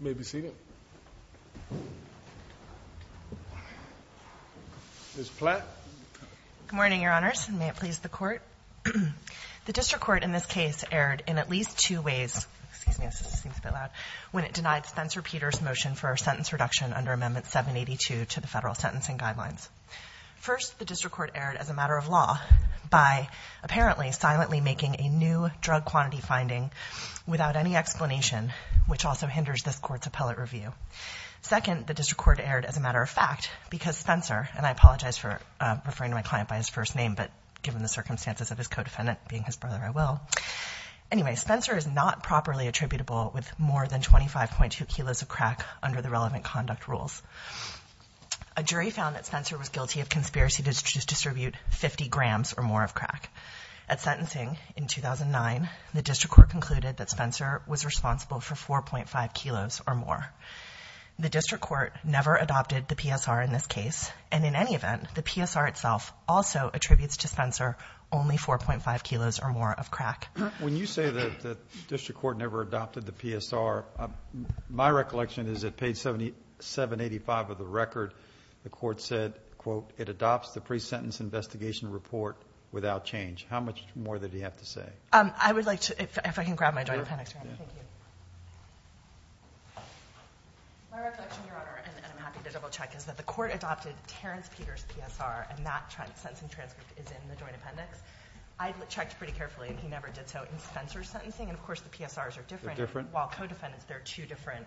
You may be seated. Ms. Platt. Good morning, Your Honors. May it please the Court. The District Court in this case erred in at least two ways, when it denied Spencer Peters' motion for a sentence reduction under Amendment 782 to the federal sentencing guidelines. First, the District Court erred as a matter of law by apparently silently making a new drug quantity finding without any explanation which also hinders this Court's appellate review. Second, the District Court erred as a matter of fact because Spencer, and I apologize for referring to my client by his first name, but given the circumstances of his co-defendant being his brother, I will. Anyway, Spencer is not properly attributable with more than 25.2 kilos of crack under the relevant conduct rules. A jury found that Spencer was guilty of conspiracy to distribute 50 grams or more of crack. At point 5 kilos or more. The District Court never adopted the PSR in this case, and in any event, the PSR itself also attributes to Spencer only 4.5 kilos or more of crack. When you say that the District Court never adopted the PSR, my recollection is that page 785 of the record, the Court said, quote, it adopts the pre-sentence investigation report without change. How much more did he have to say? I would like to, if I can grab my joint appendix, Your Honor. Thank you. My reflection, Your Honor, and I'm happy to double-check, is that the Court adopted Terence Peters' PSR, and that sentencing transcript is in the joint appendix. I checked pretty carefully, and he never did so in Spencer's sentencing, and of course the PSRs are different. They're different. While co-defendants, they're two different.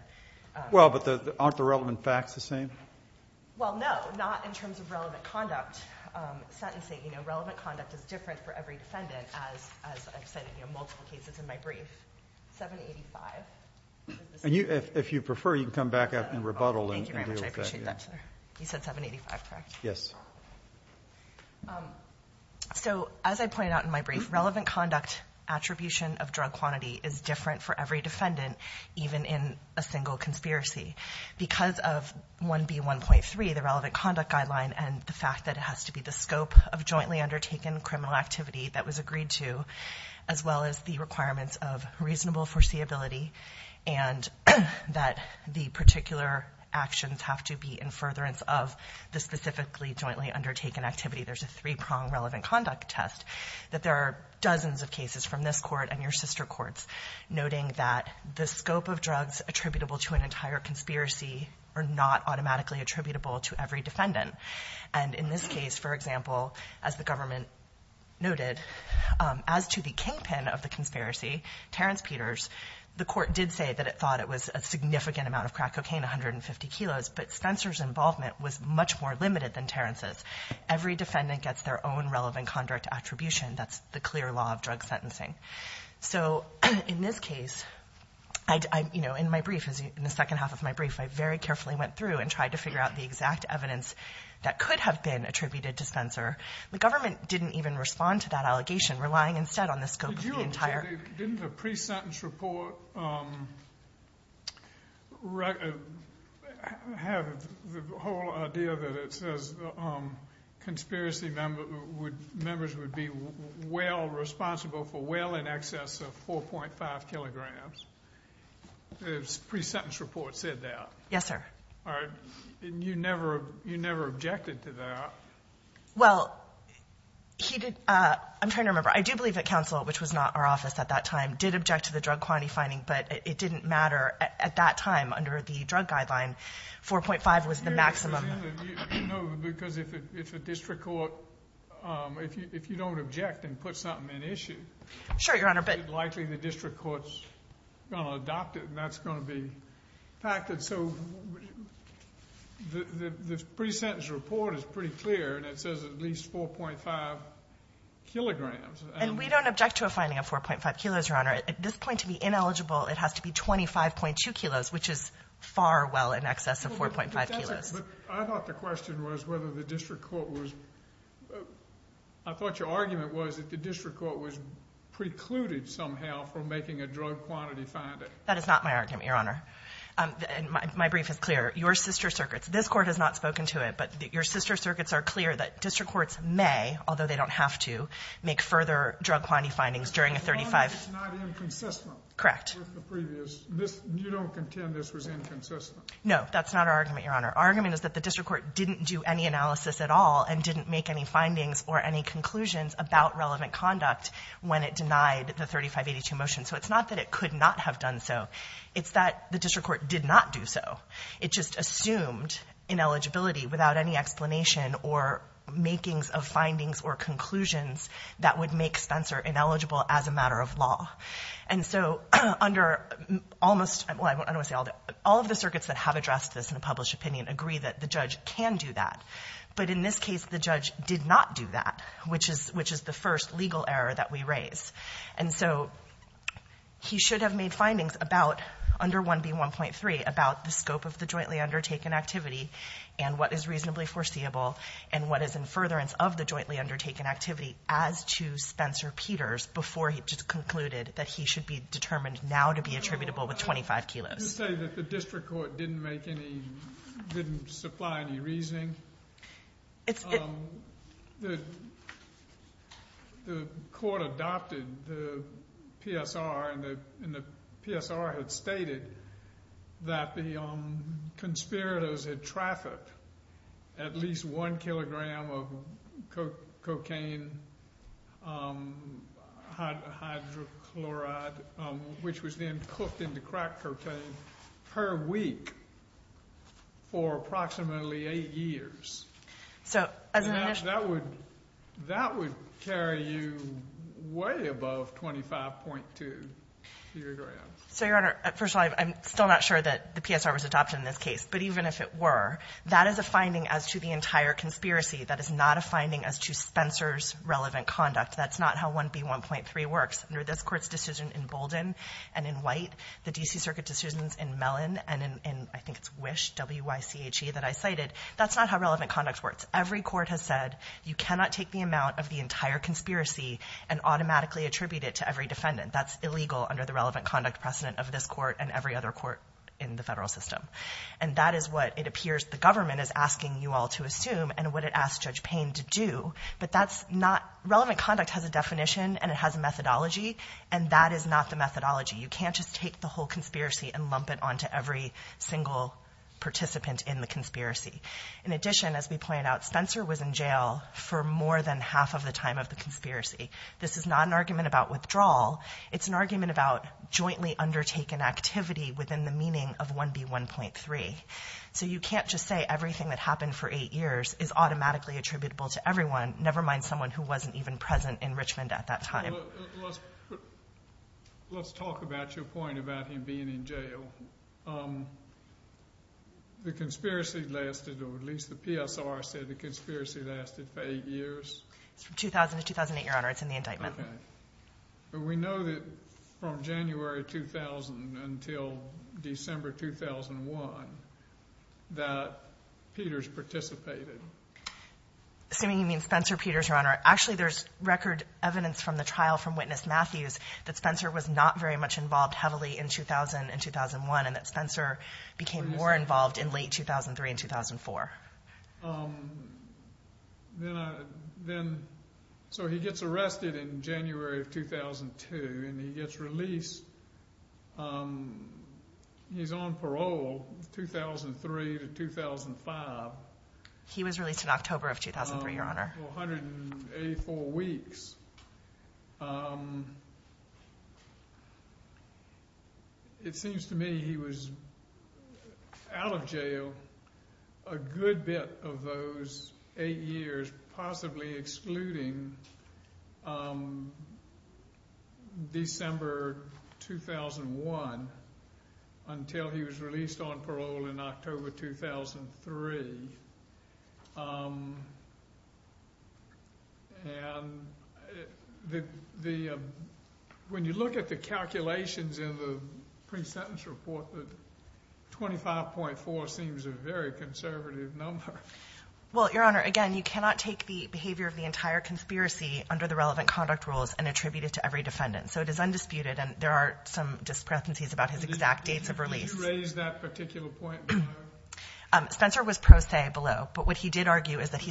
Well, but aren't the relevant facts the same? Well, no. Not in terms of relevant conduct. Sentencing, you know, relevant conduct is different for every defendant, as I've said in multiple cases in my brief. 785. And if you prefer, you can come back up and rebuttal and deal with that. Thank you very much. I appreciate that, sir. You said 785, correct? Yes. So, as I pointed out in my brief, relevant conduct attribution of drug quantity is different for every defendant, even in a single conspiracy. Because of 1B1.3, the relevant conduct guideline, and the fact that it has to be the scope of jointly undertaken criminal activity that was agreed to, as well as the requirements of reasonable foreseeability, and that the particular actions have to be in furtherance of the specifically jointly undertaken activity, there's a three-prong relevant conduct test, that there are dozens of cases from this Court and your sister courts noting that the scope of drugs attributable to an entire conspiracy are not automatically attributable to every defendant. For example, as the government noted, as to the kingpin of the conspiracy, Terrence Peters, the Court did say that it thought it was a significant amount of crack cocaine, 150 kilos, but Spencer's involvement was much more limited than Terrence's. Every defendant gets their own relevant conduct attribution. That's the clear law of drug sentencing. So in this case, you know, in my brief, in the second half of my brief, I very carefully went through and tried to figure out the exact evidence that could have been attributed to Spencer. The government didn't even respond to that allegation, relying instead on the scope of the entire... Didn't the pre-sentence report have the whole idea that it says conspiracy members would be well responsible for well in excess of 4.5 kilograms? The pre-sentence report said that. Yes, sir. And you never objected to that? Well, I'm trying to remember. I do believe that counsel, which was not our office at that time, did object to the drug quantity finding, but it didn't matter at that time under the drug guideline. 4.5 was the maximum. No, because if a district court, if you don't object and put something in issue, likely the district court's going to adopt it and that's going to be impacted. So the pre-sentence report is pretty clear and it says at least 4.5 kilograms. And we don't object to a finding of 4.5 kilos, Your Honor. At this point, to be ineligible, it has to be 25.2 kilos, which is far well in excess of 4.5 kilos. I thought the question was whether the district court was... I thought your argument was that the district court was precluded somehow from making a drug quantity finding. That is not my argument, Your Honor. My brief is clear. Your sister circuits – this Court has not spoken to it, but your sister circuits are clear that district courts may, although they don't have to, make further drug quantity findings during a 35... Your Honor, it's not inconsistent... Correct. ...with the previous. You don't contend this was inconsistent? No, that's not our argument, Your Honor. Our argument is that the district court didn't do any analysis at all and didn't make any findings or any conclusions about relevant conduct when it denied the 3582 motion. So it's not that it could not have done so. It's that the district court did not do so. It just assumed ineligibility without any explanation or makings of findings or conclusions that would make Spencer ineligible as a matter of law. And so under almost... Well, I don't want to say all the... All of the circuits that have addressed this in a published opinion agree that the judge can do that. But in this case, the judge did not do that, which is the first legal error that we raise. And so he should have made findings about, under 1B1.3, about the scope of the jointly undertaken activity and what is reasonably foreseeable and what is in furtherance of the jointly undertaken activity as to Spencer Peters before he just concluded that he should be determined now to be attributable with 25 kilos. You're saying that the district court didn't make any... didn't supply any reasoning? The court adopted the PSR, and the PSR had stated that the conspirators had trafficked at least one kilogram of cocaine, hydrochloride, which was then for approximately eight years. So as an initial... And that would carry you way above 25.2 kilograms. So, Your Honor, first of all, I'm still not sure that the PSR was adopted in this case. But even if it were, that is a finding as to the entire conspiracy. That is not a finding as to Spencer's relevant conduct. That's not how 1B1.3 works. Under this Court's decision in Bolden and in White, the D.C. Circuit decisions in Mellon and in, I think it's Wish, W-Y-C-H-E, that I cited, that's not how relevant conduct works. Every court has said you cannot take the amount of the entire conspiracy and automatically attribute it to every defendant. That's illegal under the relevant conduct precedent of this court and every other court in the federal system. And that is what it appears the government is asking you all to assume and what it asks Judge Payne to do. But that's not... Relevant conduct has a definition and it has a methodology, and that is not the methodology. You can't just take the whole conspiracy and lump it onto every single participant in the conspiracy. In addition, as we pointed out, Spencer was in jail for more than half of the time of the conspiracy. This is not an argument about withdrawal. It's an argument about jointly undertaken activity within the meaning of 1B1.3. So you can't just say everything that happened for eight years is automatically attributable to everyone, never mind someone who wasn't even present in Richmond at that time. Well, let's talk about your point about him being in jail. The conspiracy lasted, or at least the PSR said the conspiracy lasted for eight years. It's from 2000 to 2008, Your Honor. It's in the indictment. Okay. But we know that from January 2000 until December 2001 that Peters participated. Assuming you mean Spencer Peters, Your Honor. Actually, there's record evidence from the trial from Witness Matthews that Spencer was not very much involved heavily in 2000 and 2001 and that Spencer became more involved in late 2003 and 2004. So he gets arrested in January of 2002, and he gets released. He's on parole 2003 to 2005. He was released in October of 2003, Your Honor. For 184 weeks. It seems to me he was out of jail a good bit of those eight years, possibly excluding December 2001 until he was released on parole in October 2003. When you look at the calculations in the pre-sentence report, 25.4 seems a very conservative number. Well, Your Honor, again, you cannot take the behavior of the entire conspiracy under the relevant conduct rules and attribute it to every defendant. So it is undisputed, and there are some discrepancies about his exact dates of release. Did you raise that particular point, Your Honor? Spencer was pro se below. But what he did argue is that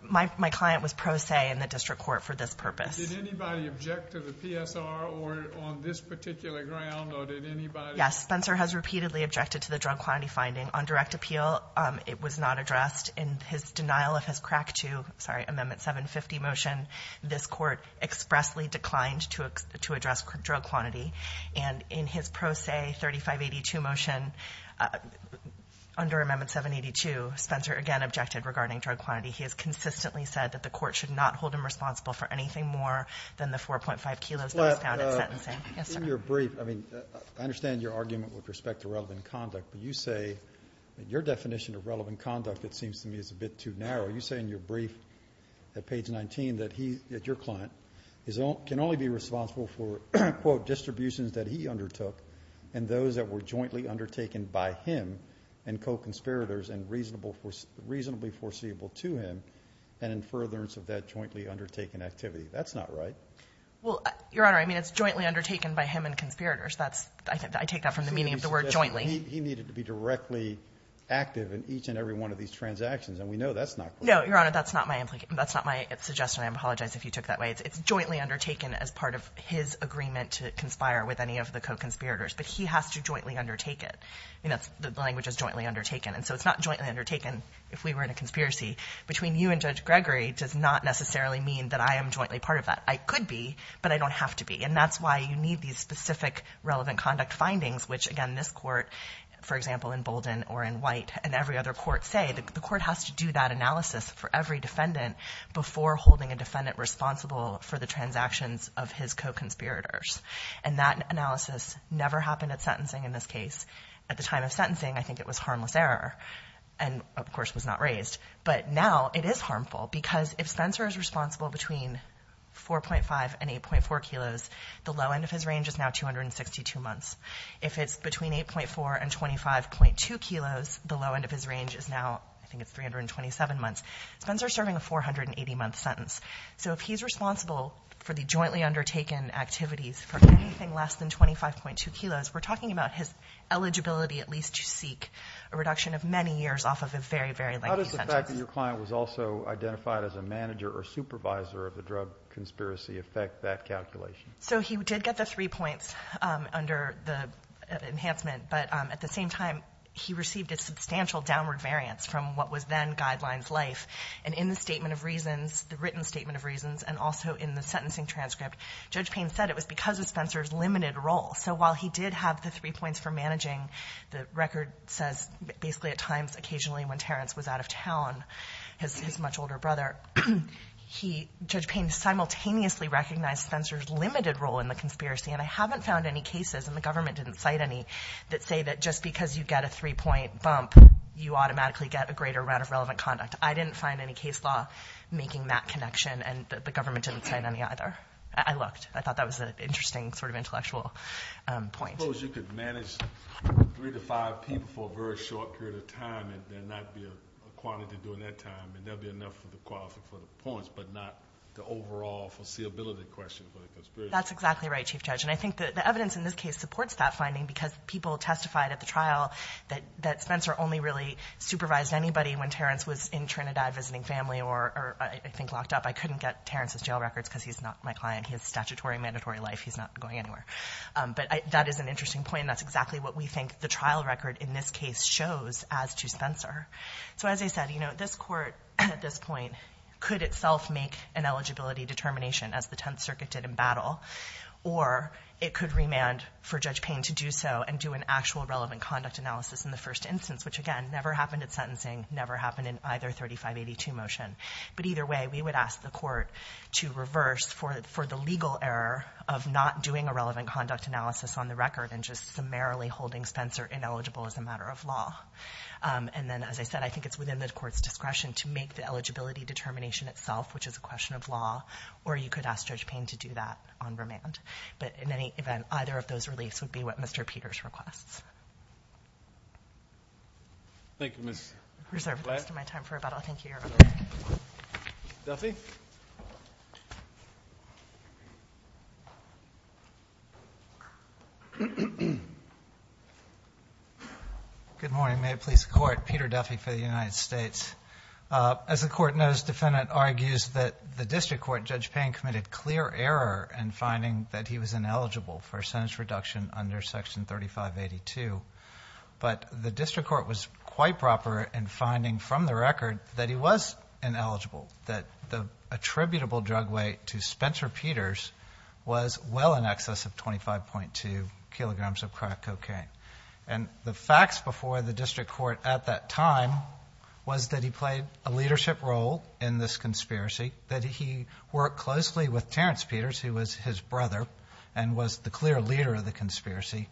my client was pro se in the district court for this purpose. Did anybody object to the PSR on this particular ground, or did anybody object? Yes. Spencer has repeatedly objected to the drug quantity finding. On direct appeal, it was not addressed. In his denial of his crack to, sorry, Amendment 750 motion, this court expressly declined to address drug quantity. And in his pro se 3582 motion, under Amendment 782, Spencer again objected regarding drug quantity. He has consistently said that the court should not hold him responsible for anything more than the 4.5 kilos that was found in sentencing. In your brief, I mean, I understand your argument with respect to relevant conduct, but you say that your definition of relevant conduct, it seems to me, is a bit too narrow. You say in your brief at page 19 that your client can only be responsible for, quote, distributions that he undertook and those that were jointly undertaken by him and co-conspirators and reasonably foreseeable to him and in furtherance of that jointly undertaken activity. That's not right. Well, Your Honor, I mean, it's jointly undertaken by him and conspirators. I take that from the meaning of the word jointly. He needed to be directly active in each and every one of these transactions. And we know that's not correct. No, Your Honor, that's not my suggestion. I apologize if you took that way. It's jointly undertaken as part of his agreement to conspire with any of the co-conspirators. But he has to jointly undertake it. The language is jointly undertaken. And so it's not jointly undertaken if we were in a conspiracy. Between you and Judge Gregory does not necessarily mean that I am jointly part of that. I could be, but I don't have to be. And that's why you need these specific relevant conduct findings which, again, this court, for example, in Bolden or in White and every other court say, the court has to do that analysis for every defendant before holding a defendant responsible for the transactions of his co-conspirators. And that analysis never happened at sentencing in this case. At the time of sentencing, I think it was harmless error and, of course, was not raised. But now it is harmful because if Spencer is responsible between 4.5 and 8.4 kilos, the low end of his range is now 262 months. If it's between 8.4 and 25.2 kilos, the low end of his range is now, I think it's 327 months. Spencer is serving a 480-month sentence. So if he's responsible for the jointly undertaken activities for anything less than 25.2 kilos, we're talking about his eligibility at least to seek a reduction of many years off of a very, very lengthy sentence. How does the fact that your client was also identified as a manager or manager affect that calculation? So he did get the three points under the enhancement. But at the same time, he received a substantial downward variance from what was then guidelines life. And in the statement of reasons, the written statement of reasons, and also in the sentencing transcript, Judge Payne said it was because of Spencer's limited role. So while he did have the three points for managing, the record says basically at times occasionally when Terrence was out of town, his much simultaneously recognized Spencer's limited role in the conspiracy. And I haven't found any cases, and the government didn't cite any, that say that just because you get a three-point bump, you automatically get a greater amount of relevant conduct. I didn't find any case law making that connection, and the government didn't cite any either. I looked. I thought that was an interesting sort of intellectual point. Suppose you could manage three to five people for a very short period of time, and there might be a quantity during that time, and there'll be enough for the points, but not the overall foreseeability question for the conspiracy. That's exactly right, Chief Judge. And I think the evidence in this case supports that finding, because people testified at the trial that Spencer only really supervised anybody when Terrence was in Trinidad visiting family or I think locked up. I couldn't get Terrence's jail records because he's not my client. He has statutory and mandatory life. He's not going anywhere. But that is an interesting point, and that's exactly what we think the trial record in this case shows as to Spencer. So as I said, you know, this court at this point could itself make an eligibility determination, as the Tenth Circuit did in battle, or it could remand for Judge Payne to do so and do an actual relevant conduct analysis in the first instance, which, again, never happened at sentencing, never happened in either 3582 motion. But either way, we would ask the court to reverse for the legal error of not doing a relevant conduct analysis on the record and just summarily holding Spencer ineligible as a matter of law. And then, as I said, I think it's within the court's discretion to make the eligibility determination itself, which is a question of law, or you could ask Judge Payne to do that on remand. But in any event, either of those reliefs would be what Mr. Peters requests. Thank you, Ms. Black. I reserve the rest of my time for rebuttal. Thank you, Your Honor. Ms. Duffy? Good morning. May it please the Court. Peter Duffy for the United States. As the Court knows, defendant argues that the district court, Judge Payne, committed clear error in finding that he was ineligible for a sentence reduction under Section 3582. But the district court was quite proper in finding from the record that he attributable drug weight to Spencer Peters was well in excess of 25.2 kilograms of crack cocaine. And the facts before the district court at that time was that he played a leadership role in this conspiracy, that he worked closely with Terrence Peters, who was his brother and was the clear leader of the conspiracy,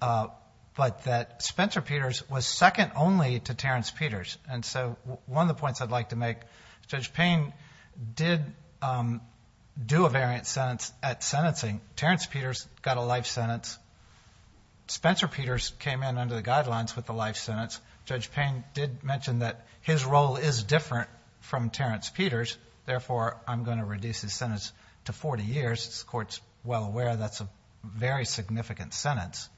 but that Spencer Peters was second only to Terrence Peters. And so one of the points I'd like to make, Judge Payne did do a variant sentence at sentencing. Terrence Peters got a life sentence. Spencer Peters came in under the guidelines with a life sentence. Judge Payne did mention that his role is different from Terrence Peters, therefore I'm going to reduce his sentence to 40 years. As the Court's well aware, that's a very significant sentence.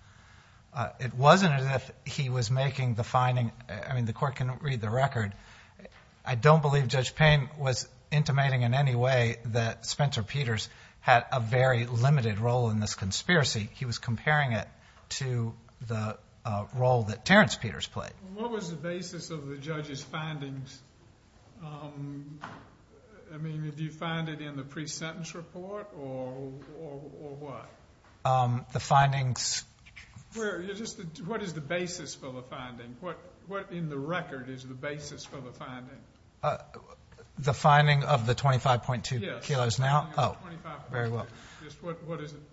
It wasn't as if he was making the finding. I mean, the Court can read the record. I don't believe Judge Payne was intimating in any way that Spencer Peters had a very limited role in this conspiracy. He was comparing it to the role that Terrence Peters played. What was the basis of the judge's findings? I mean, did you find it in the pre-sentence report or what? The findings... What is the basis for the finding? What in the record is the basis for the finding? The finding of the 25.2 kilos now? Yes, the finding of the 25.2. Very well.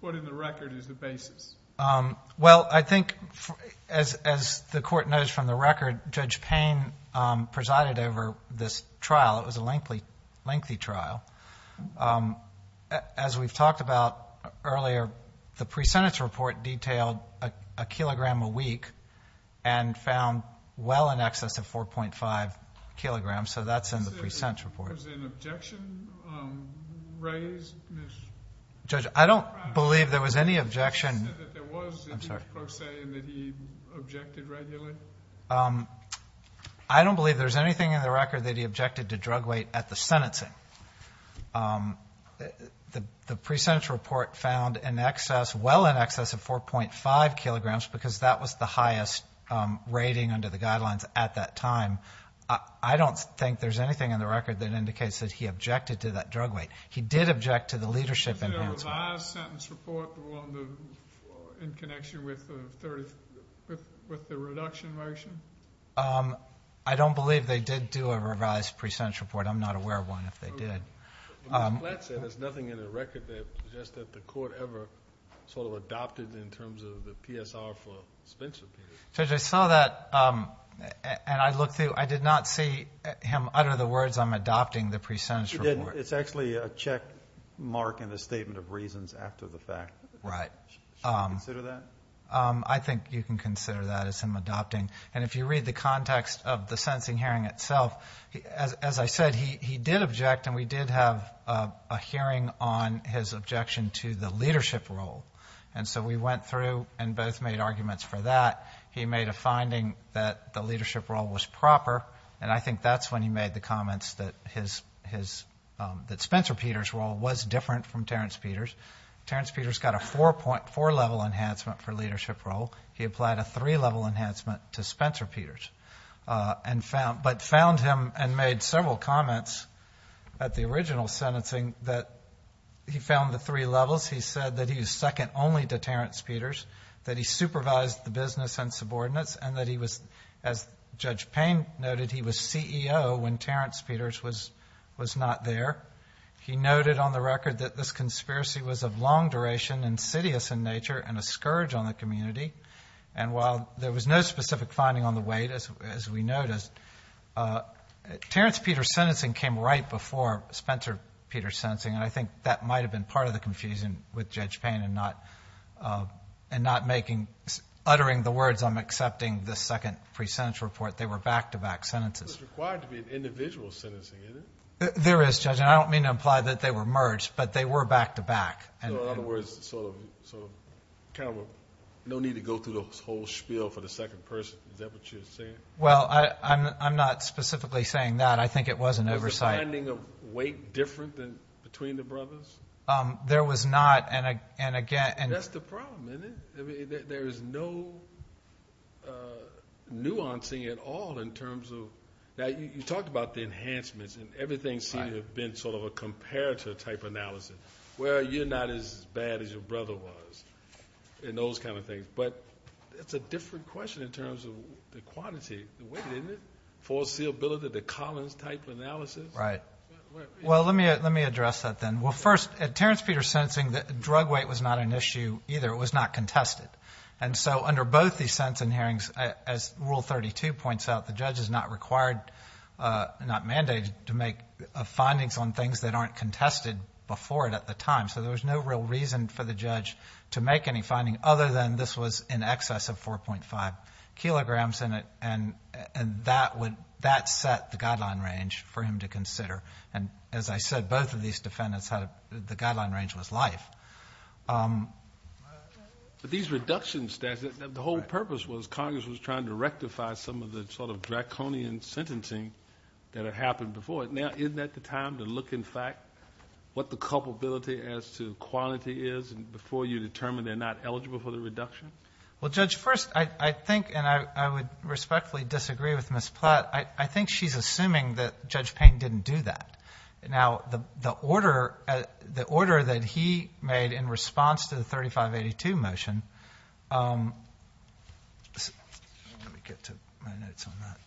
What in the record is the basis? Well, I think, as the Court knows from the record, Judge Payne presided over this trial. It was a lengthy trial. As we've talked about earlier, the pre-sentence report detailed a kilogram a week and found well in excess of 4.5 kilograms, so that's in the pre-sentence report. Was there an objection raised? Judge, I don't believe there was any objection... You said that there was... I'm sorry.... and that he objected regularly? I don't believe there's anything in the record that he objected to The pre-sentence report found well in excess of 4.5 kilograms because that was the highest rating under the guidelines at that time. I don't think there's anything in the record that indicates that he objected to that drug weight. He did object to the leadership enhancement. Was there a revised sentence report in connection with the reduction motion? I don't believe they did do a revised pre-sentence report. I'm not aware of one if they did. The complaint said there's nothing in the record that suggests that the court ever sort of adopted in terms of the PSR for suspension period. Judge, I saw that and I looked through. I did not see him utter the words, I'm adopting the pre-sentence report. You didn't. It's actually a check mark and a statement of reasons after the fact. Right. Should we consider that? I think you can consider that as him adopting. If you read the context of the sentencing hearing itself, as I said, he did object and we did have a hearing on his objection to the leadership role. And so we went through and both made arguments for that. He made a finding that the leadership role was proper and I think that's when he made the comments that Spencer Peters' role was different from Terrence Peters. Terrence Peters got a 4.4 level enhancement for leadership role. He applied a 3 level enhancement to Spencer Peters. But found him and made several comments at the original sentencing that he found the three levels. He said that he was second only to Terrence Peters, that he supervised the business and subordinates, and that he was, as Judge Payne noted, he was CEO when Terrence Peters was not there. He noted on the record that this conspiracy was of long duration, insidious in nature, and a scourge on the community. And while there was no specific finding on the weight, as we noticed, Terrence Peters' sentencing came right before Spencer Peters' sentencing. And I think that might have been part of the confusion with Judge Payne and not making, uttering the words, I'm accepting the second pre-sentence report. They were back-to-back sentences. It was required to be an individual sentencing, isn't it? There is, Judge. And I don't mean to imply that they were merged, but they were back-to-back. In other words, no need to go through the whole spiel for the second person. Is that what you're saying? Well, I'm not specifically saying that. I think it was an oversight. Was the finding of weight different between the brothers? There was not. That's the problem, isn't it? There is no nuancing at all in terms of that. You talked about the enhancements, and everything seemed to have been sort of a comparator type analysis. Where you're not as bad as your brother was, and those kind of things. But it's a different question in terms of the quantity, the weight, isn't it? Foreseeability, the Collins-type analysis. Right. Well, let me address that then. Well, first, at Terrence Peters' sentencing, drug weight was not an issue either. It was not contested. And so under both these sentencing hearings, as Rule 32 points out, the judge is not required, not mandated, to make findings on things that aren't contested before it at the time. So there was no real reason for the judge to make any finding, other than this was in excess of 4.5 kilograms. And that set the guideline range for him to consider. And as I said, both of these defendants, the guideline range was life. But these reductions, the whole purpose was Congress was trying to rectify some of the sort of draconian sentencing that had happened before it. Now, isn't that the time to look, in fact, what the culpability as to quality is before you determine they're not eligible for the reduction? Well, Judge, first, I think, and I would respectfully disagree with Ms. Platt, I think she's assuming that Judge Payne didn't do that. Now, the order that he made in response to the 3582 motion, let me get to my notes on that.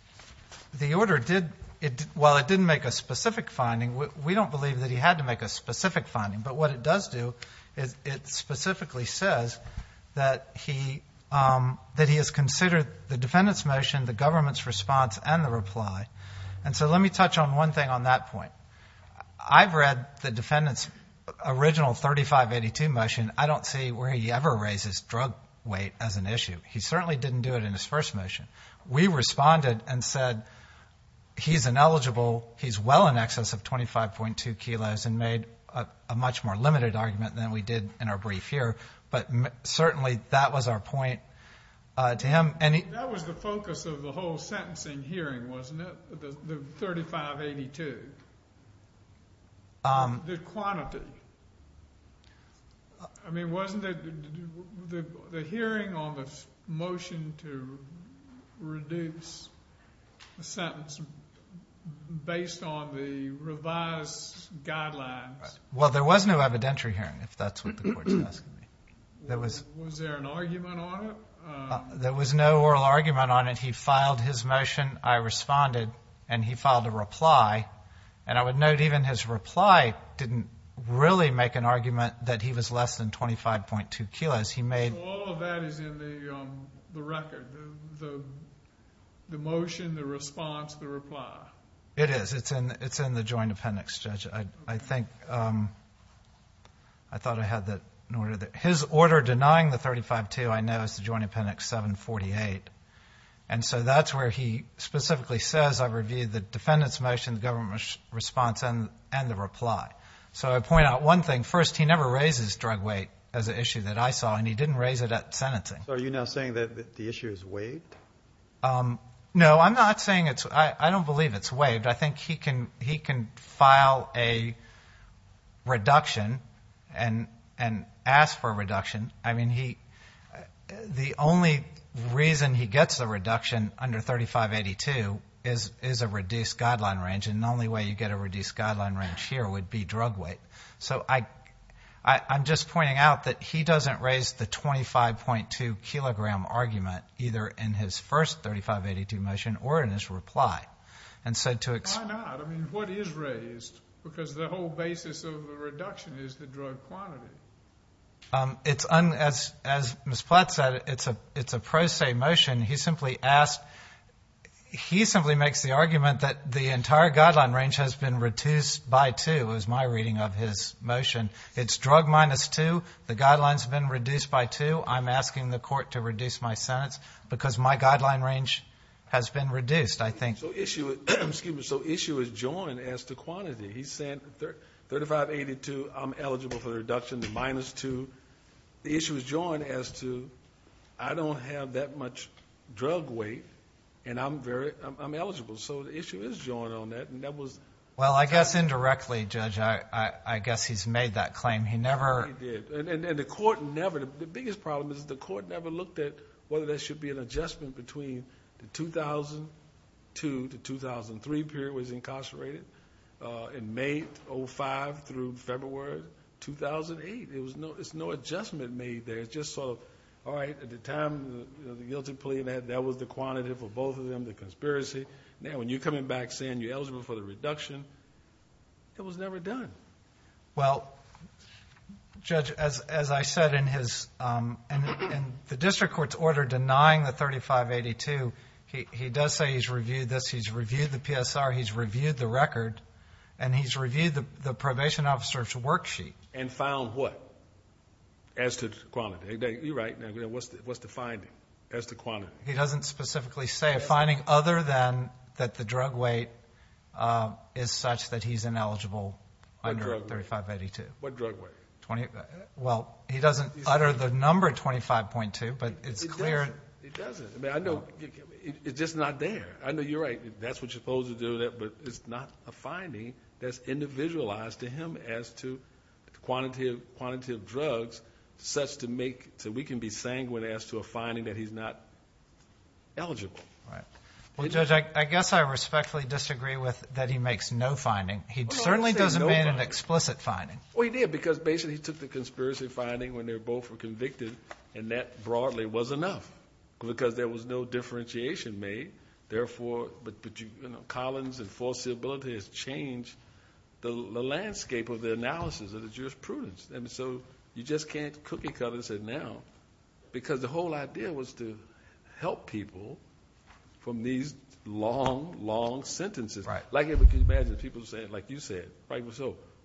The order did, while it didn't make a specific finding, we don't believe that he had to make a specific finding. But what it does do is it specifically says that he has considered the defendant's motion, the government's response, and the reply. And so let me touch on one thing on that point. I've read the defendant's original 3582 motion. I don't see where he ever raised his drug weight as an issue. He certainly didn't do it in his first motion. We responded and said he's ineligible, he's well in excess of 25.2 kilos, and made a much more limited argument than we did in our brief here. But certainly that was our point to him. That was the focus of the whole sentencing hearing, wasn't it, the 3582? The quantity? I mean, wasn't it the hearing on the motion to reduce the sentence based on the revised guidelines? Well, there was no evidentiary hearing, if that's what the Court's asking. Was there an argument on it? There was no oral argument on it. He filed his motion, I responded, and he filed a reply. And I would note even his reply didn't really make an argument that he was less than 25.2 kilos. He made... So all of that is in the record, the motion, the response, the reply? It is. It's in the Joint Appendix, Judge. I think... I thought I had that in order. His order denying the 3582 I know is the Joint Appendix 748. And so that's where he specifically says, I reviewed the defendant's motion, the government response, and the reply. So I point out one thing. First, he never raises drug weight as an issue that I saw, and he didn't raise it at sentencing. So are you now saying that the issue is waived? No, I'm not saying it's... I don't believe it's waived. I think he can file a reduction and ask for a reduction. The only reason he gets a reduction under 3582 is a reduced guideline range, and the only way you get a reduced guideline range here would be drug weight. So I'm just pointing out that he doesn't raise the 25.2-kilogram argument either in his first 3582 motion or in his reply. Why not? I mean, what is raised? Because the whole basis of a reduction is the drug quantity. As Ms. Platt said, it's a pro se motion. He simply makes the argument that the entire guideline range has been reduced by two, is my reading of his motion. It's drug minus two. The guideline's been reduced by two. I'm asking the court to reduce my sentence because my guideline range has been reduced, I think. So issue is joined as to quantity. He's saying 3582, I'm eligible for a reduction to minus two. The issue is joined as to I don't have that much drug weight, and I'm eligible. So the issue is joined on that, and that was... Well, I guess indirectly, Judge, I guess he's made that claim. He never... He never did, and the court never... The biggest problem is the court never looked at whether there should be an adjustment between the 2002 to 2003 period when he was incarcerated and May 2005 through February 2008. There's no adjustment made there. It's just sort of, all right, at the time, the guilty plea, that was the quantity for both of them, the conspiracy. Now when you're coming back saying you're eligible for the reduction, it was never done. Well, Judge, as I said in the district court's order denying the 3582, he does say he's reviewed this, he's reviewed the PSR, he's reviewed the record, and he's reviewed the probation officer's worksheet. And found what? As to quantity. You're right. What's the finding as to quantity? He doesn't specifically say a finding other than that the drug weight is such that he's ineligible under 3582. What drug weight? Well, he doesn't utter the number 25.2, but it's clear... It doesn't. I mean, I know it's just not there. I know you're right. That's what you're supposed to do, but it's not a finding that's individualized to him as to the quantity of drugs such to make... eligible. Well, Judge, I guess I respectfully disagree with that he makes no finding. He certainly doesn't make an explicit finding. Well, he did, because basically he took the conspiracy finding when they both were convicted, and that broadly was enough, because there was no differentiation made. Therefore, Collins and false suitability has changed the landscape of the analysis of the jurisprudence. I mean, so you just can't cookie cutter and say now, because the whole idea was to help people from these long, long sentences. Right. Like if you imagine people saying, like you said,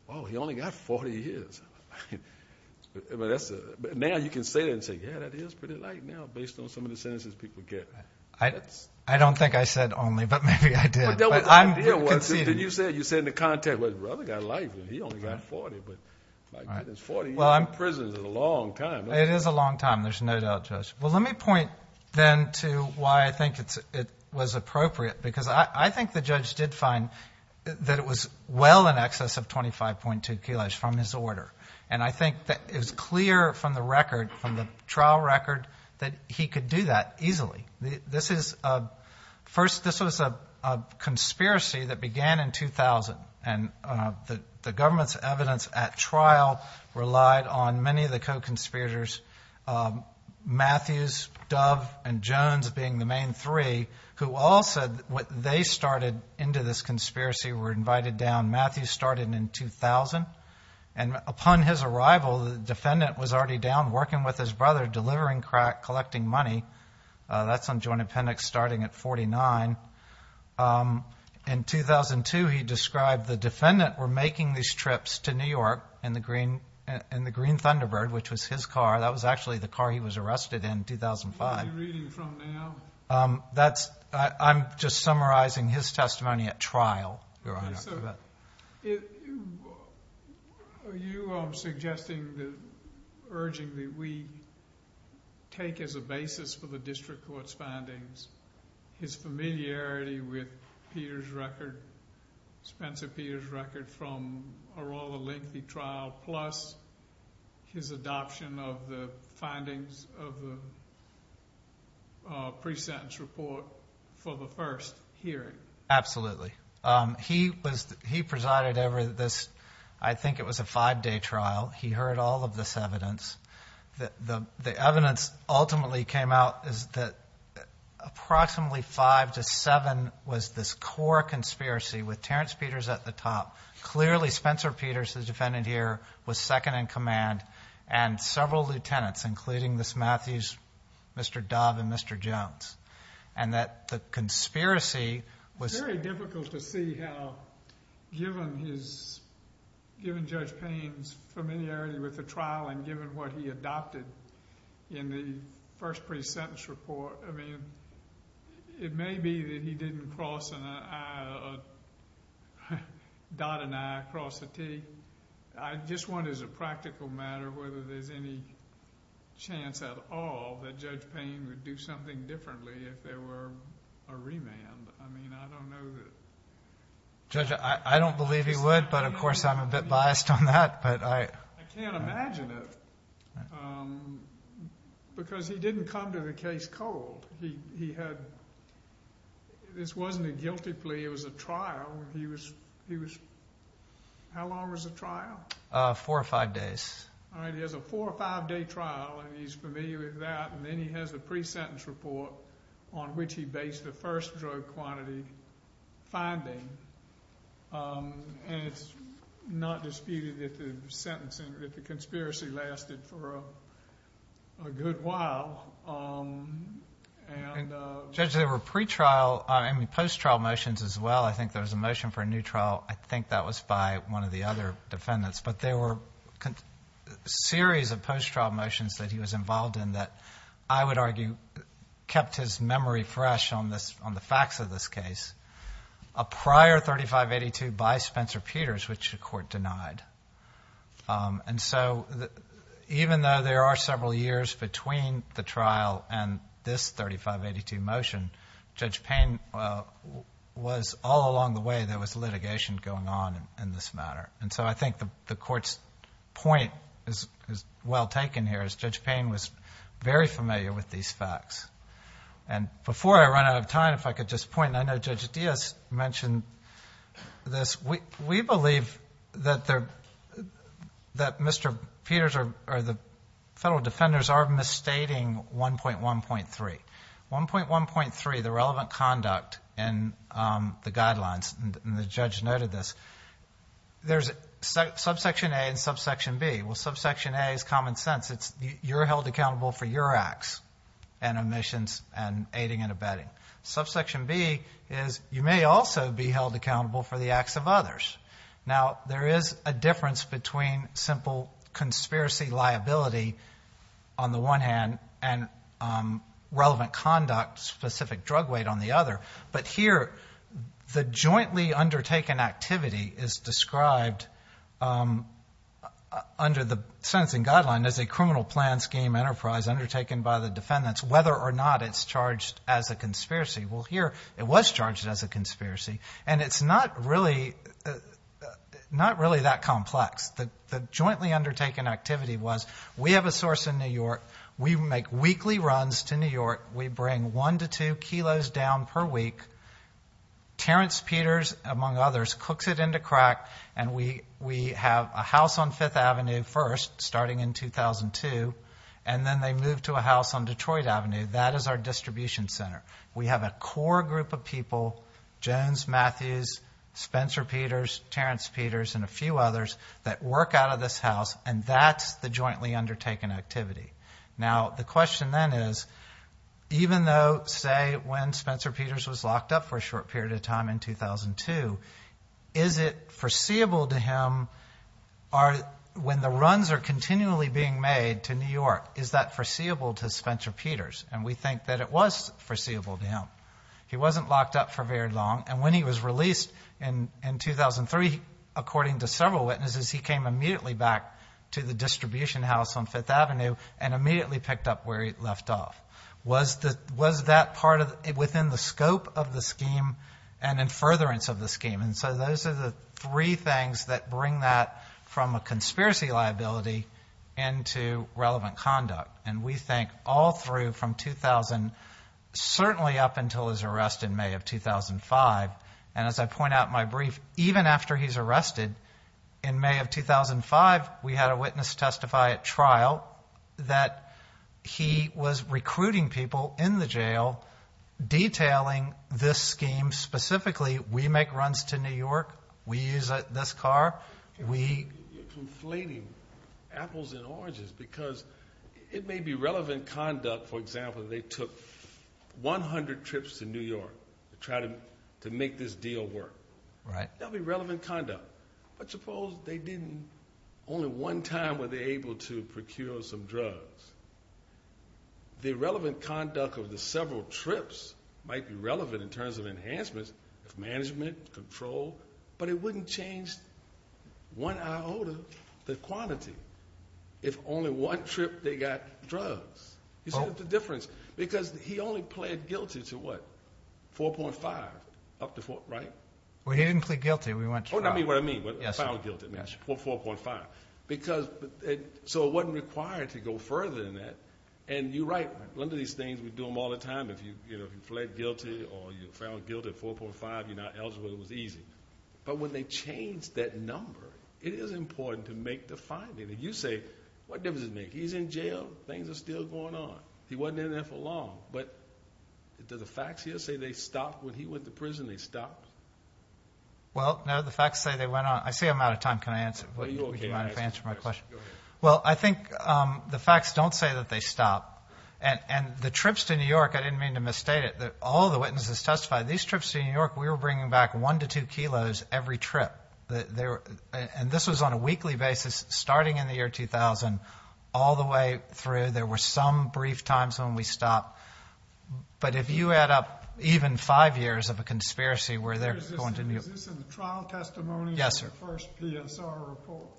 oh, he only got 40 years. Now you can say that and say, yeah, that is pretty light now based on some of the sentences people get. I don't think I said only, but maybe I did. But I'm conceding. But then you said in the context, well, his brother got life, and he only got 40, but my goodness, 40 years in prison is a long time. It is a long time. There's no doubt, Judge. Well, let me point then to why I think it was appropriate, because I think the judge did find that it was well in excess of 25.2 kilos from his order. And I think that it was clear from the record, from the trial record, that he could do that easily. First, this was a conspiracy that began in 2000, and the government's evidence at trial relied on many of the co-conspirators, Matthews, Dove, and Jones being the main three, who all said they started into this conspiracy, were invited down. Matthews started in 2000, and upon his arrival, the defendant was already down working with his brother, delivering crack, collecting money. That's on joint appendix starting at 49. In 2002, he described the defendant were making these trips to New York in the Green Thunderbird, which was his car. That was actually the car he was arrested in, 2005. What are you reading from now? I'm just summarizing his testimony at trial, Your Honor. Are you suggesting, urging that we take as a basis for the district court's findings his familiarity with Peter's record, Spencer Peter's record from a rather lengthy trial, plus his adoption of the findings of the pre-sentence report for the first hearing? Absolutely. He presided over this, I think it was a five-day trial. He heard all of this evidence. The evidence ultimately came out is that approximately five to seven was this core conspiracy with Terrence Peters at the top. Clearly, Spencer Peters, the defendant here, was second in command, and several lieutenants, including this Matthews, Mr. Dove, and Mr. Jones, and that the conspiracy was… It's very difficult to see how, given Judge Payne's familiarity with the trial and given what he adopted in the first pre-sentence report, I mean, it may be that he didn't cross an I, dot an I, cross a T. I just want as a practical matter whether there's any chance at all that Judge Payne would do something differently if there were a remand. I mean, I don't know that… Judge, I don't believe he would, but, of course, I'm a bit biased on that, but I… I can't imagine it because he didn't come to the case cold. He had – this wasn't a guilty plea. It was a trial. He was – how long was the trial? Four or five days. All right, he has a four- or five-day trial, and he's familiar with that, and then he has the pre-sentence report on which he based the first drug quantity finding, and it's not disputed that the sentencing – that the conspiracy lasted for a good while, and… Judge, there were pre-trial – I mean, post-trial motions as well. I think there was a motion for a new trial. I think that was by one of the other defendants, but there were a series of post-trial motions that he was involved in that, I would argue, kept his memory fresh on the facts of this case. A prior 3582 by Spencer Peters, which the Court denied. And so even though there are several years between the trial and this 3582 motion, Judge Payne was all along the way there was litigation going on in this matter. And so I think the Court's point is well taken here, as Judge Payne was very familiar with these facts. And before I run out of time, if I could just point, I know Judge Diaz mentioned this. We believe that Mr. Peters or the federal defenders are misstating 1.1.3. 1.1.3, the relevant conduct and the guidelines, and the judge noted this. There's subsection A and subsection B. Well, subsection A is common sense. It's you're held accountable for your acts and omissions and aiding and abetting. Subsection B is you may also be held accountable for the acts of others. Now, there is a difference between simple conspiracy liability on the one hand and relevant conduct-specific drug weight on the other. But here the jointly undertaken activity is described under the sentencing guideline as a criminal plan scheme enterprise undertaken by the defendants, whether or not it's charged as a conspiracy. Well, here it was charged as a conspiracy. And it's not really that complex. The jointly undertaken activity was we have a source in New York. We make weekly runs to New York. We bring one to two kilos down per week. Terrence Peters, among others, cooks it into crack. And we have a house on Fifth Avenue first, starting in 2002, and then they move to a house on Detroit Avenue. That is our distribution center. We have a core group of people, Jones, Matthews, Spencer Peters, Terrence Peters, and a few others that work out of this house, and that's the jointly undertaken activity. Now, the question then is even though, say, when Spencer Peters was locked up for a short period of time in 2002, is it foreseeable to him when the runs are continually being made to New York, is that foreseeable to Spencer Peters? And we think that it was foreseeable to him. He wasn't locked up for very long. And when he was released in 2003, according to several witnesses, he came immediately back to the distribution house on Fifth Avenue and immediately picked up where he left off. Was that part within the scope of the scheme and in furtherance of the scheme? And so those are the three things that bring that from a conspiracy liability into relevant conduct. And we think all through from 2000, certainly up until his arrest in May of 2005, and as I point out in my brief, even after he's arrested, in May of 2005, we had a witness testify at trial that he was recruiting people in the jail detailing this scheme specifically. We make runs to New York. We use this car. We... You're conflating apples and oranges because it may be relevant conduct, for example, that they took 100 trips to New York to try to make this deal work. That would be relevant conduct. But suppose they didn't. Only one time were they able to procure some drugs. The relevant conduct of the several trips might be relevant in terms of enhancements, management, control, but it wouldn't change one iota the quantity if only one trip they got drugs. You see the difference? Because he only pled guilty to what? 4.5, right? Well, he didn't plead guilty. Oh, I mean what I mean, found guilty, 4.5. So it wasn't required to go further than that. And you're right, one of these things we do them all the time, if you pled guilty or you found guilty at 4.5, you're not eligible, it was easy. But when they change that number, it is important to make the finding. And you say, what difference does it make? He's in jail. Things are still going on. He wasn't in there for long. But do the facts here say they stopped? When he went to prison, they stopped? Well, no, the facts say they went on. I see I'm out of time. Can I answer? Would you mind if I answer my question? Go ahead. Well, I think the facts don't say that they stopped. And the trips to New York, I didn't mean to misstate it, all the witnesses testified. These trips to New York, we were bringing back one to two kilos every trip. And this was on a weekly basis, starting in the year 2000 all the way through. There were some brief times when we stopped. But if you add up even five years of a conspiracy where they're going to New York. Is this in the trial testimony or the first PSR report?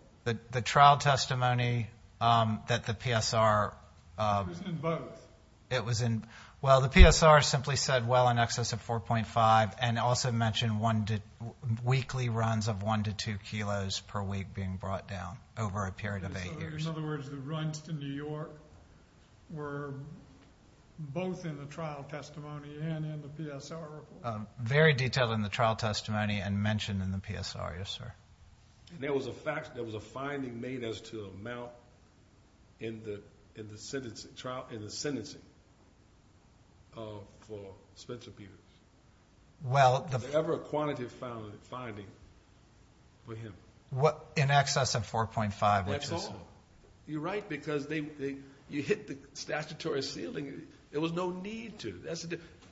The trial testimony that the PSR. It was in both. Well, the PSR simply said, well, in excess of 4.5. And also mentioned weekly runs of one to two kilos per week being brought down over a period of eight years. In other words, the runs to New York were both in the trial testimony and in the PSR report? Very detailed in the trial testimony and mentioned in the PSR, yes, sir. And there was a finding made as to the amount in the sentencing for Spencer Peters. Was there ever a quantitative finding for him? In excess of 4.5, which is? That's all. You're right, because you hit the statutory ceiling. There was no need to.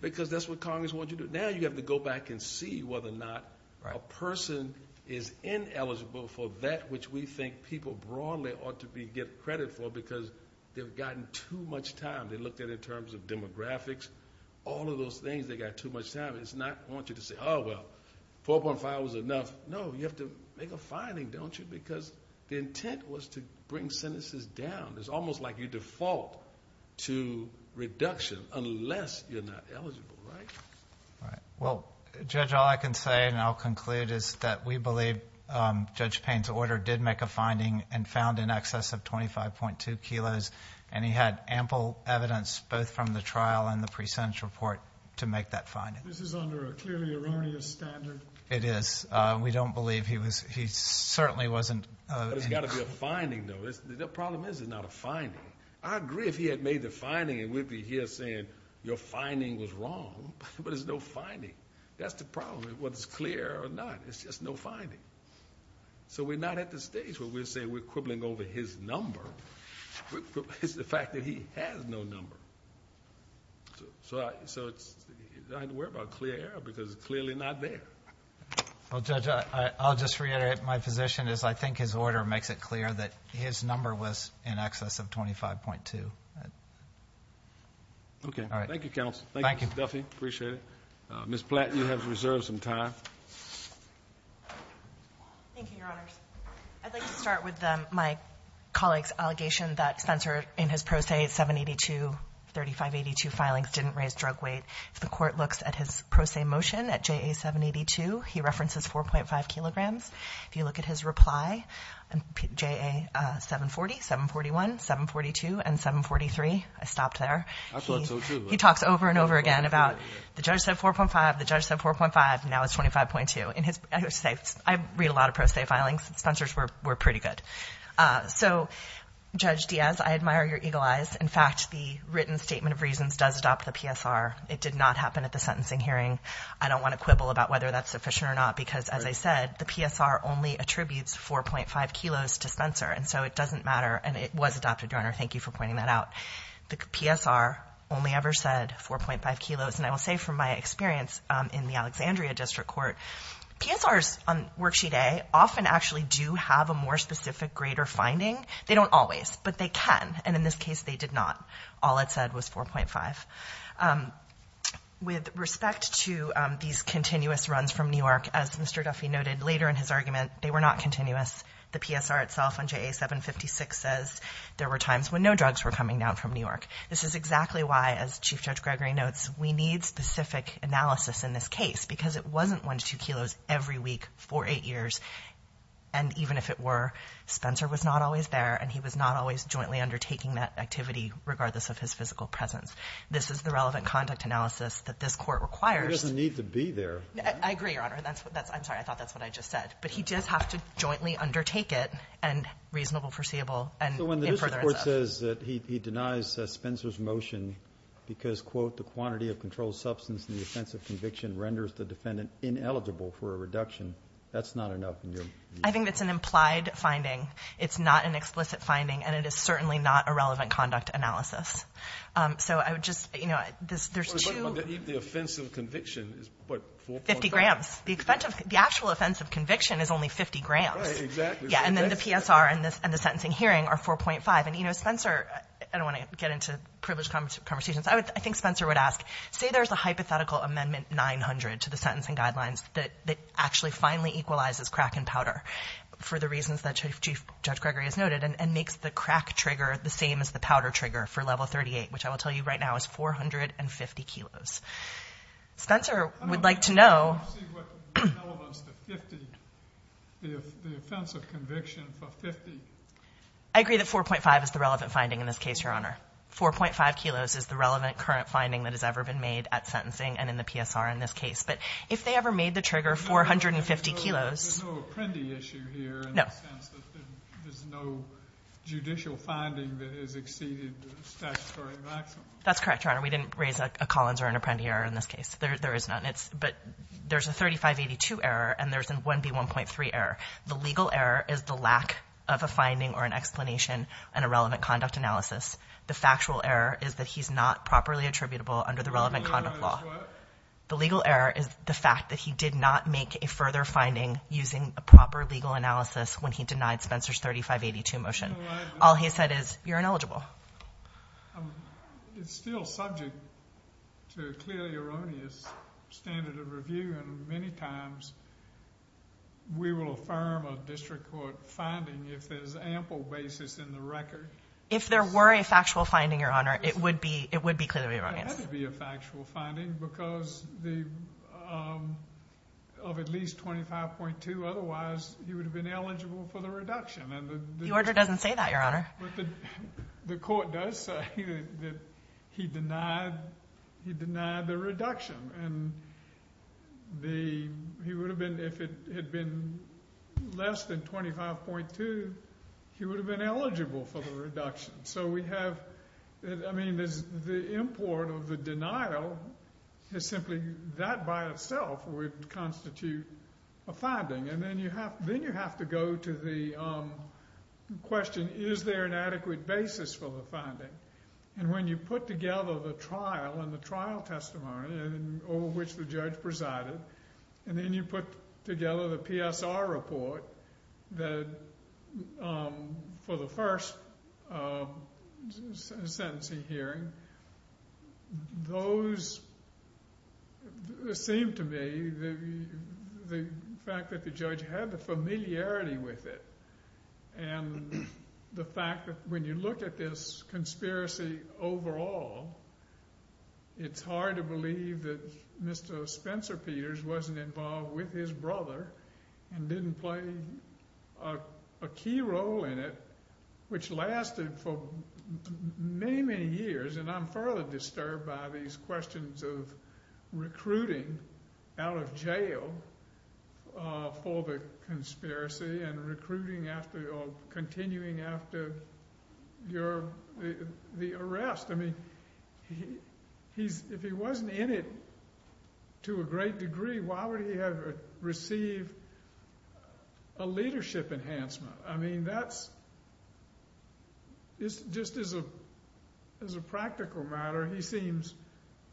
Because that's what Congress wanted you to do. But now you have to go back and see whether or not a person is ineligible for that, which we think people broadly ought to get credit for because they've gotten too much time. They looked at it in terms of demographics. All of those things, they got too much time. It's not, I want you to say, oh, well, 4.5 was enough. No, you have to make a finding, don't you? Because the intent was to bring sentences down. It's almost like you default to reduction unless you're not eligible, right? Right. Well, Judge, all I can say, and I'll conclude, is that we believe Judge Payne's order did make a finding and found in excess of 25.2 kilos. And he had ample evidence, both from the trial and the pre-sentence report, to make that finding. This is under a clearly erroneous standard? It is. We don't believe he certainly wasn't. But it's got to be a finding, though. The problem is it's not a finding. I agree if he had made the finding and we'd be here saying your finding was wrong. But it's no finding. That's the problem, whether it's clear or not. It's just no finding. So we're not at the stage where we're saying we're quibbling over his number. It's the fact that he has no number. So I have to worry about clear error because it's clearly not there. Well, Judge, I'll just reiterate. My position is I think his order makes it clear that his number was in excess of 25.2. Okay. Thank you, counsel. Thank you, Mr. Duffy. Appreciate it. Ms. Platt, you have reserved some time. Thank you, Your Honors. I'd like to start with my colleague's allegation that Spencer, in his pro se 782, 3582 filings, didn't raise drug weight. If the court looks at his pro se motion at JA 782, he references 4.5 kilograms. If you look at his reply, JA 740, 741, 742, and 743, I stopped there. He talks over and over again about the judge said 4.5, the judge said 4.5, now it's 25.2. I read a lot of pro se filings. Spencer's were pretty good. So, Judge Diaz, I admire your eagle eyes. In fact, the written statement of reasons does adopt the PSR. It did not happen at the sentencing hearing. I don't want to quibble about whether that's sufficient or not because, as I said, the PSR only attributes 4.5 kilos to Spencer. And so it doesn't matter, and it was adopted, Your Honor. Thank you for pointing that out. The PSR only ever said 4.5 kilos. And I will say from my experience in the Alexandria District Court, PSRs on worksheet A often actually do have a more specific greater finding. They don't always, but they can. And in this case, they did not. All it said was 4.5. With respect to these continuous runs from New York, as Mr. Duffy noted later in his argument, they were not continuous. The PSR itself on JA 756 says there were times when no drugs were coming down from New York. This is exactly why, as Chief Judge Gregory notes, we need specific analysis in this case because it wasn't one to two kilos every week for eight years. And even if it were, Spencer was not always there, and he was not always jointly undertaking that activity, regardless of his physical presence. This is the relevant conduct analysis that this Court requires. He doesn't need to be there. I agree, Your Honor. I'm sorry. I thought that's what I just said. But he does have to jointly undertake it, and reasonable, foreseeable, and in furtherance of. substance in the offense of conviction renders the defendant ineligible for a reduction. That's not enough in your view. I think that's an implied finding. It's not an explicit finding, and it is certainly not a relevant conduct analysis. So I would just, you know, there's two. The offense of conviction is, what, 4.5? 50 grams. The actual offense of conviction is only 50 grams. Right, exactly. Yeah, and then the PSR and the sentencing hearing are 4.5. And, you know, Spencer, I don't want to get into privileged conversations. I think Spencer would ask, say there's a hypothetical amendment 900 to the sentencing guidelines that actually finally equalizes crack and powder for the reasons that Judge Gregory has noted and makes the crack trigger the same as the powder trigger for level 38, which I will tell you right now is 450 kilos. Spencer would like to know. I don't see what the relevance of 50, the offense of conviction for 50. I agree that 4.5 is the relevant finding in this case, Your Honor. 4.5 kilos is the relevant current finding that has ever been made at sentencing and in the PSR in this case. But if they ever made the trigger 450 kilos. There's no apprendi issue here in the sense that there's no judicial finding that has exceeded the statutory maximum. That's correct, Your Honor. We didn't raise a Collins or an apprendi error in this case. There is none. But there's a 3582 error, and there's a 1B1.3 error. The legal error is the lack of a finding or an explanation and a relevant conduct analysis. The factual error is that he's not properly attributable under the relevant conduct law. The legal error is what? The legal error is the fact that he did not make a further finding using a proper legal analysis when he denied Spencer's 3582 motion. All he said is you're ineligible. It's still subject to a clearly erroneous standard of review, and many times we will affirm a district court finding if there's ample basis in the record. If there were a factual finding, Your Honor, it would be clearly erroneous. It had to be a factual finding because of at least 25.2. Otherwise, he would have been eligible for the reduction. The order doesn't say that, Your Honor. The court does say that he denied the reduction. He would have been, if it had been less than 25.2, he would have been eligible for the reduction. So we have, I mean, the import of the denial is simply that by itself would constitute a finding. And then you have to go to the question, is there an adequate basis for the finding? And when you put together the trial and the trial testimony over which the judge presided, and then you put together the PSR report for the first sentencing hearing, those seem to me the fact that the judge had the familiarity with it and the fact that when you look at this conspiracy overall, it's hard to believe that Mr. Spencer Peters wasn't involved with his brother and didn't play a key role in it, which lasted for many, many years. And I'm further disturbed by these questions of recruiting out of jail for the conspiracy and continuing after the arrest. I mean, if he wasn't in it to a great degree, why would he have received a leadership enhancement? I mean, just as a practical matter, he seems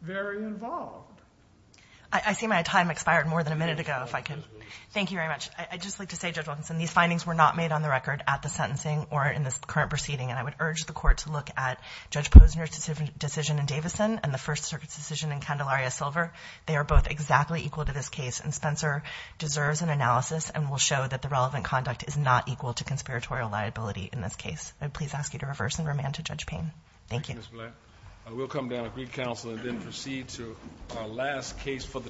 very involved. I see my time expired more than a minute ago, if I can. Thank you very much. I'd just like to say, Judge Wilkinson, these findings were not made on the record at the sentencing or in this current proceeding, and I would urge the court to look at Judge Posner's decision in Davison and the First Circuit's decision in Candelaria Silver. They are both exactly equal to this case, and Spencer deserves an analysis and will show that the relevant conduct is not equal to conspiratorial liability in this case. I would please ask you to reverse and remand to Judge Payne. Thank you. Thank you, Ms. Blatt. We'll come down with recounsel and then proceed to our last case for the term.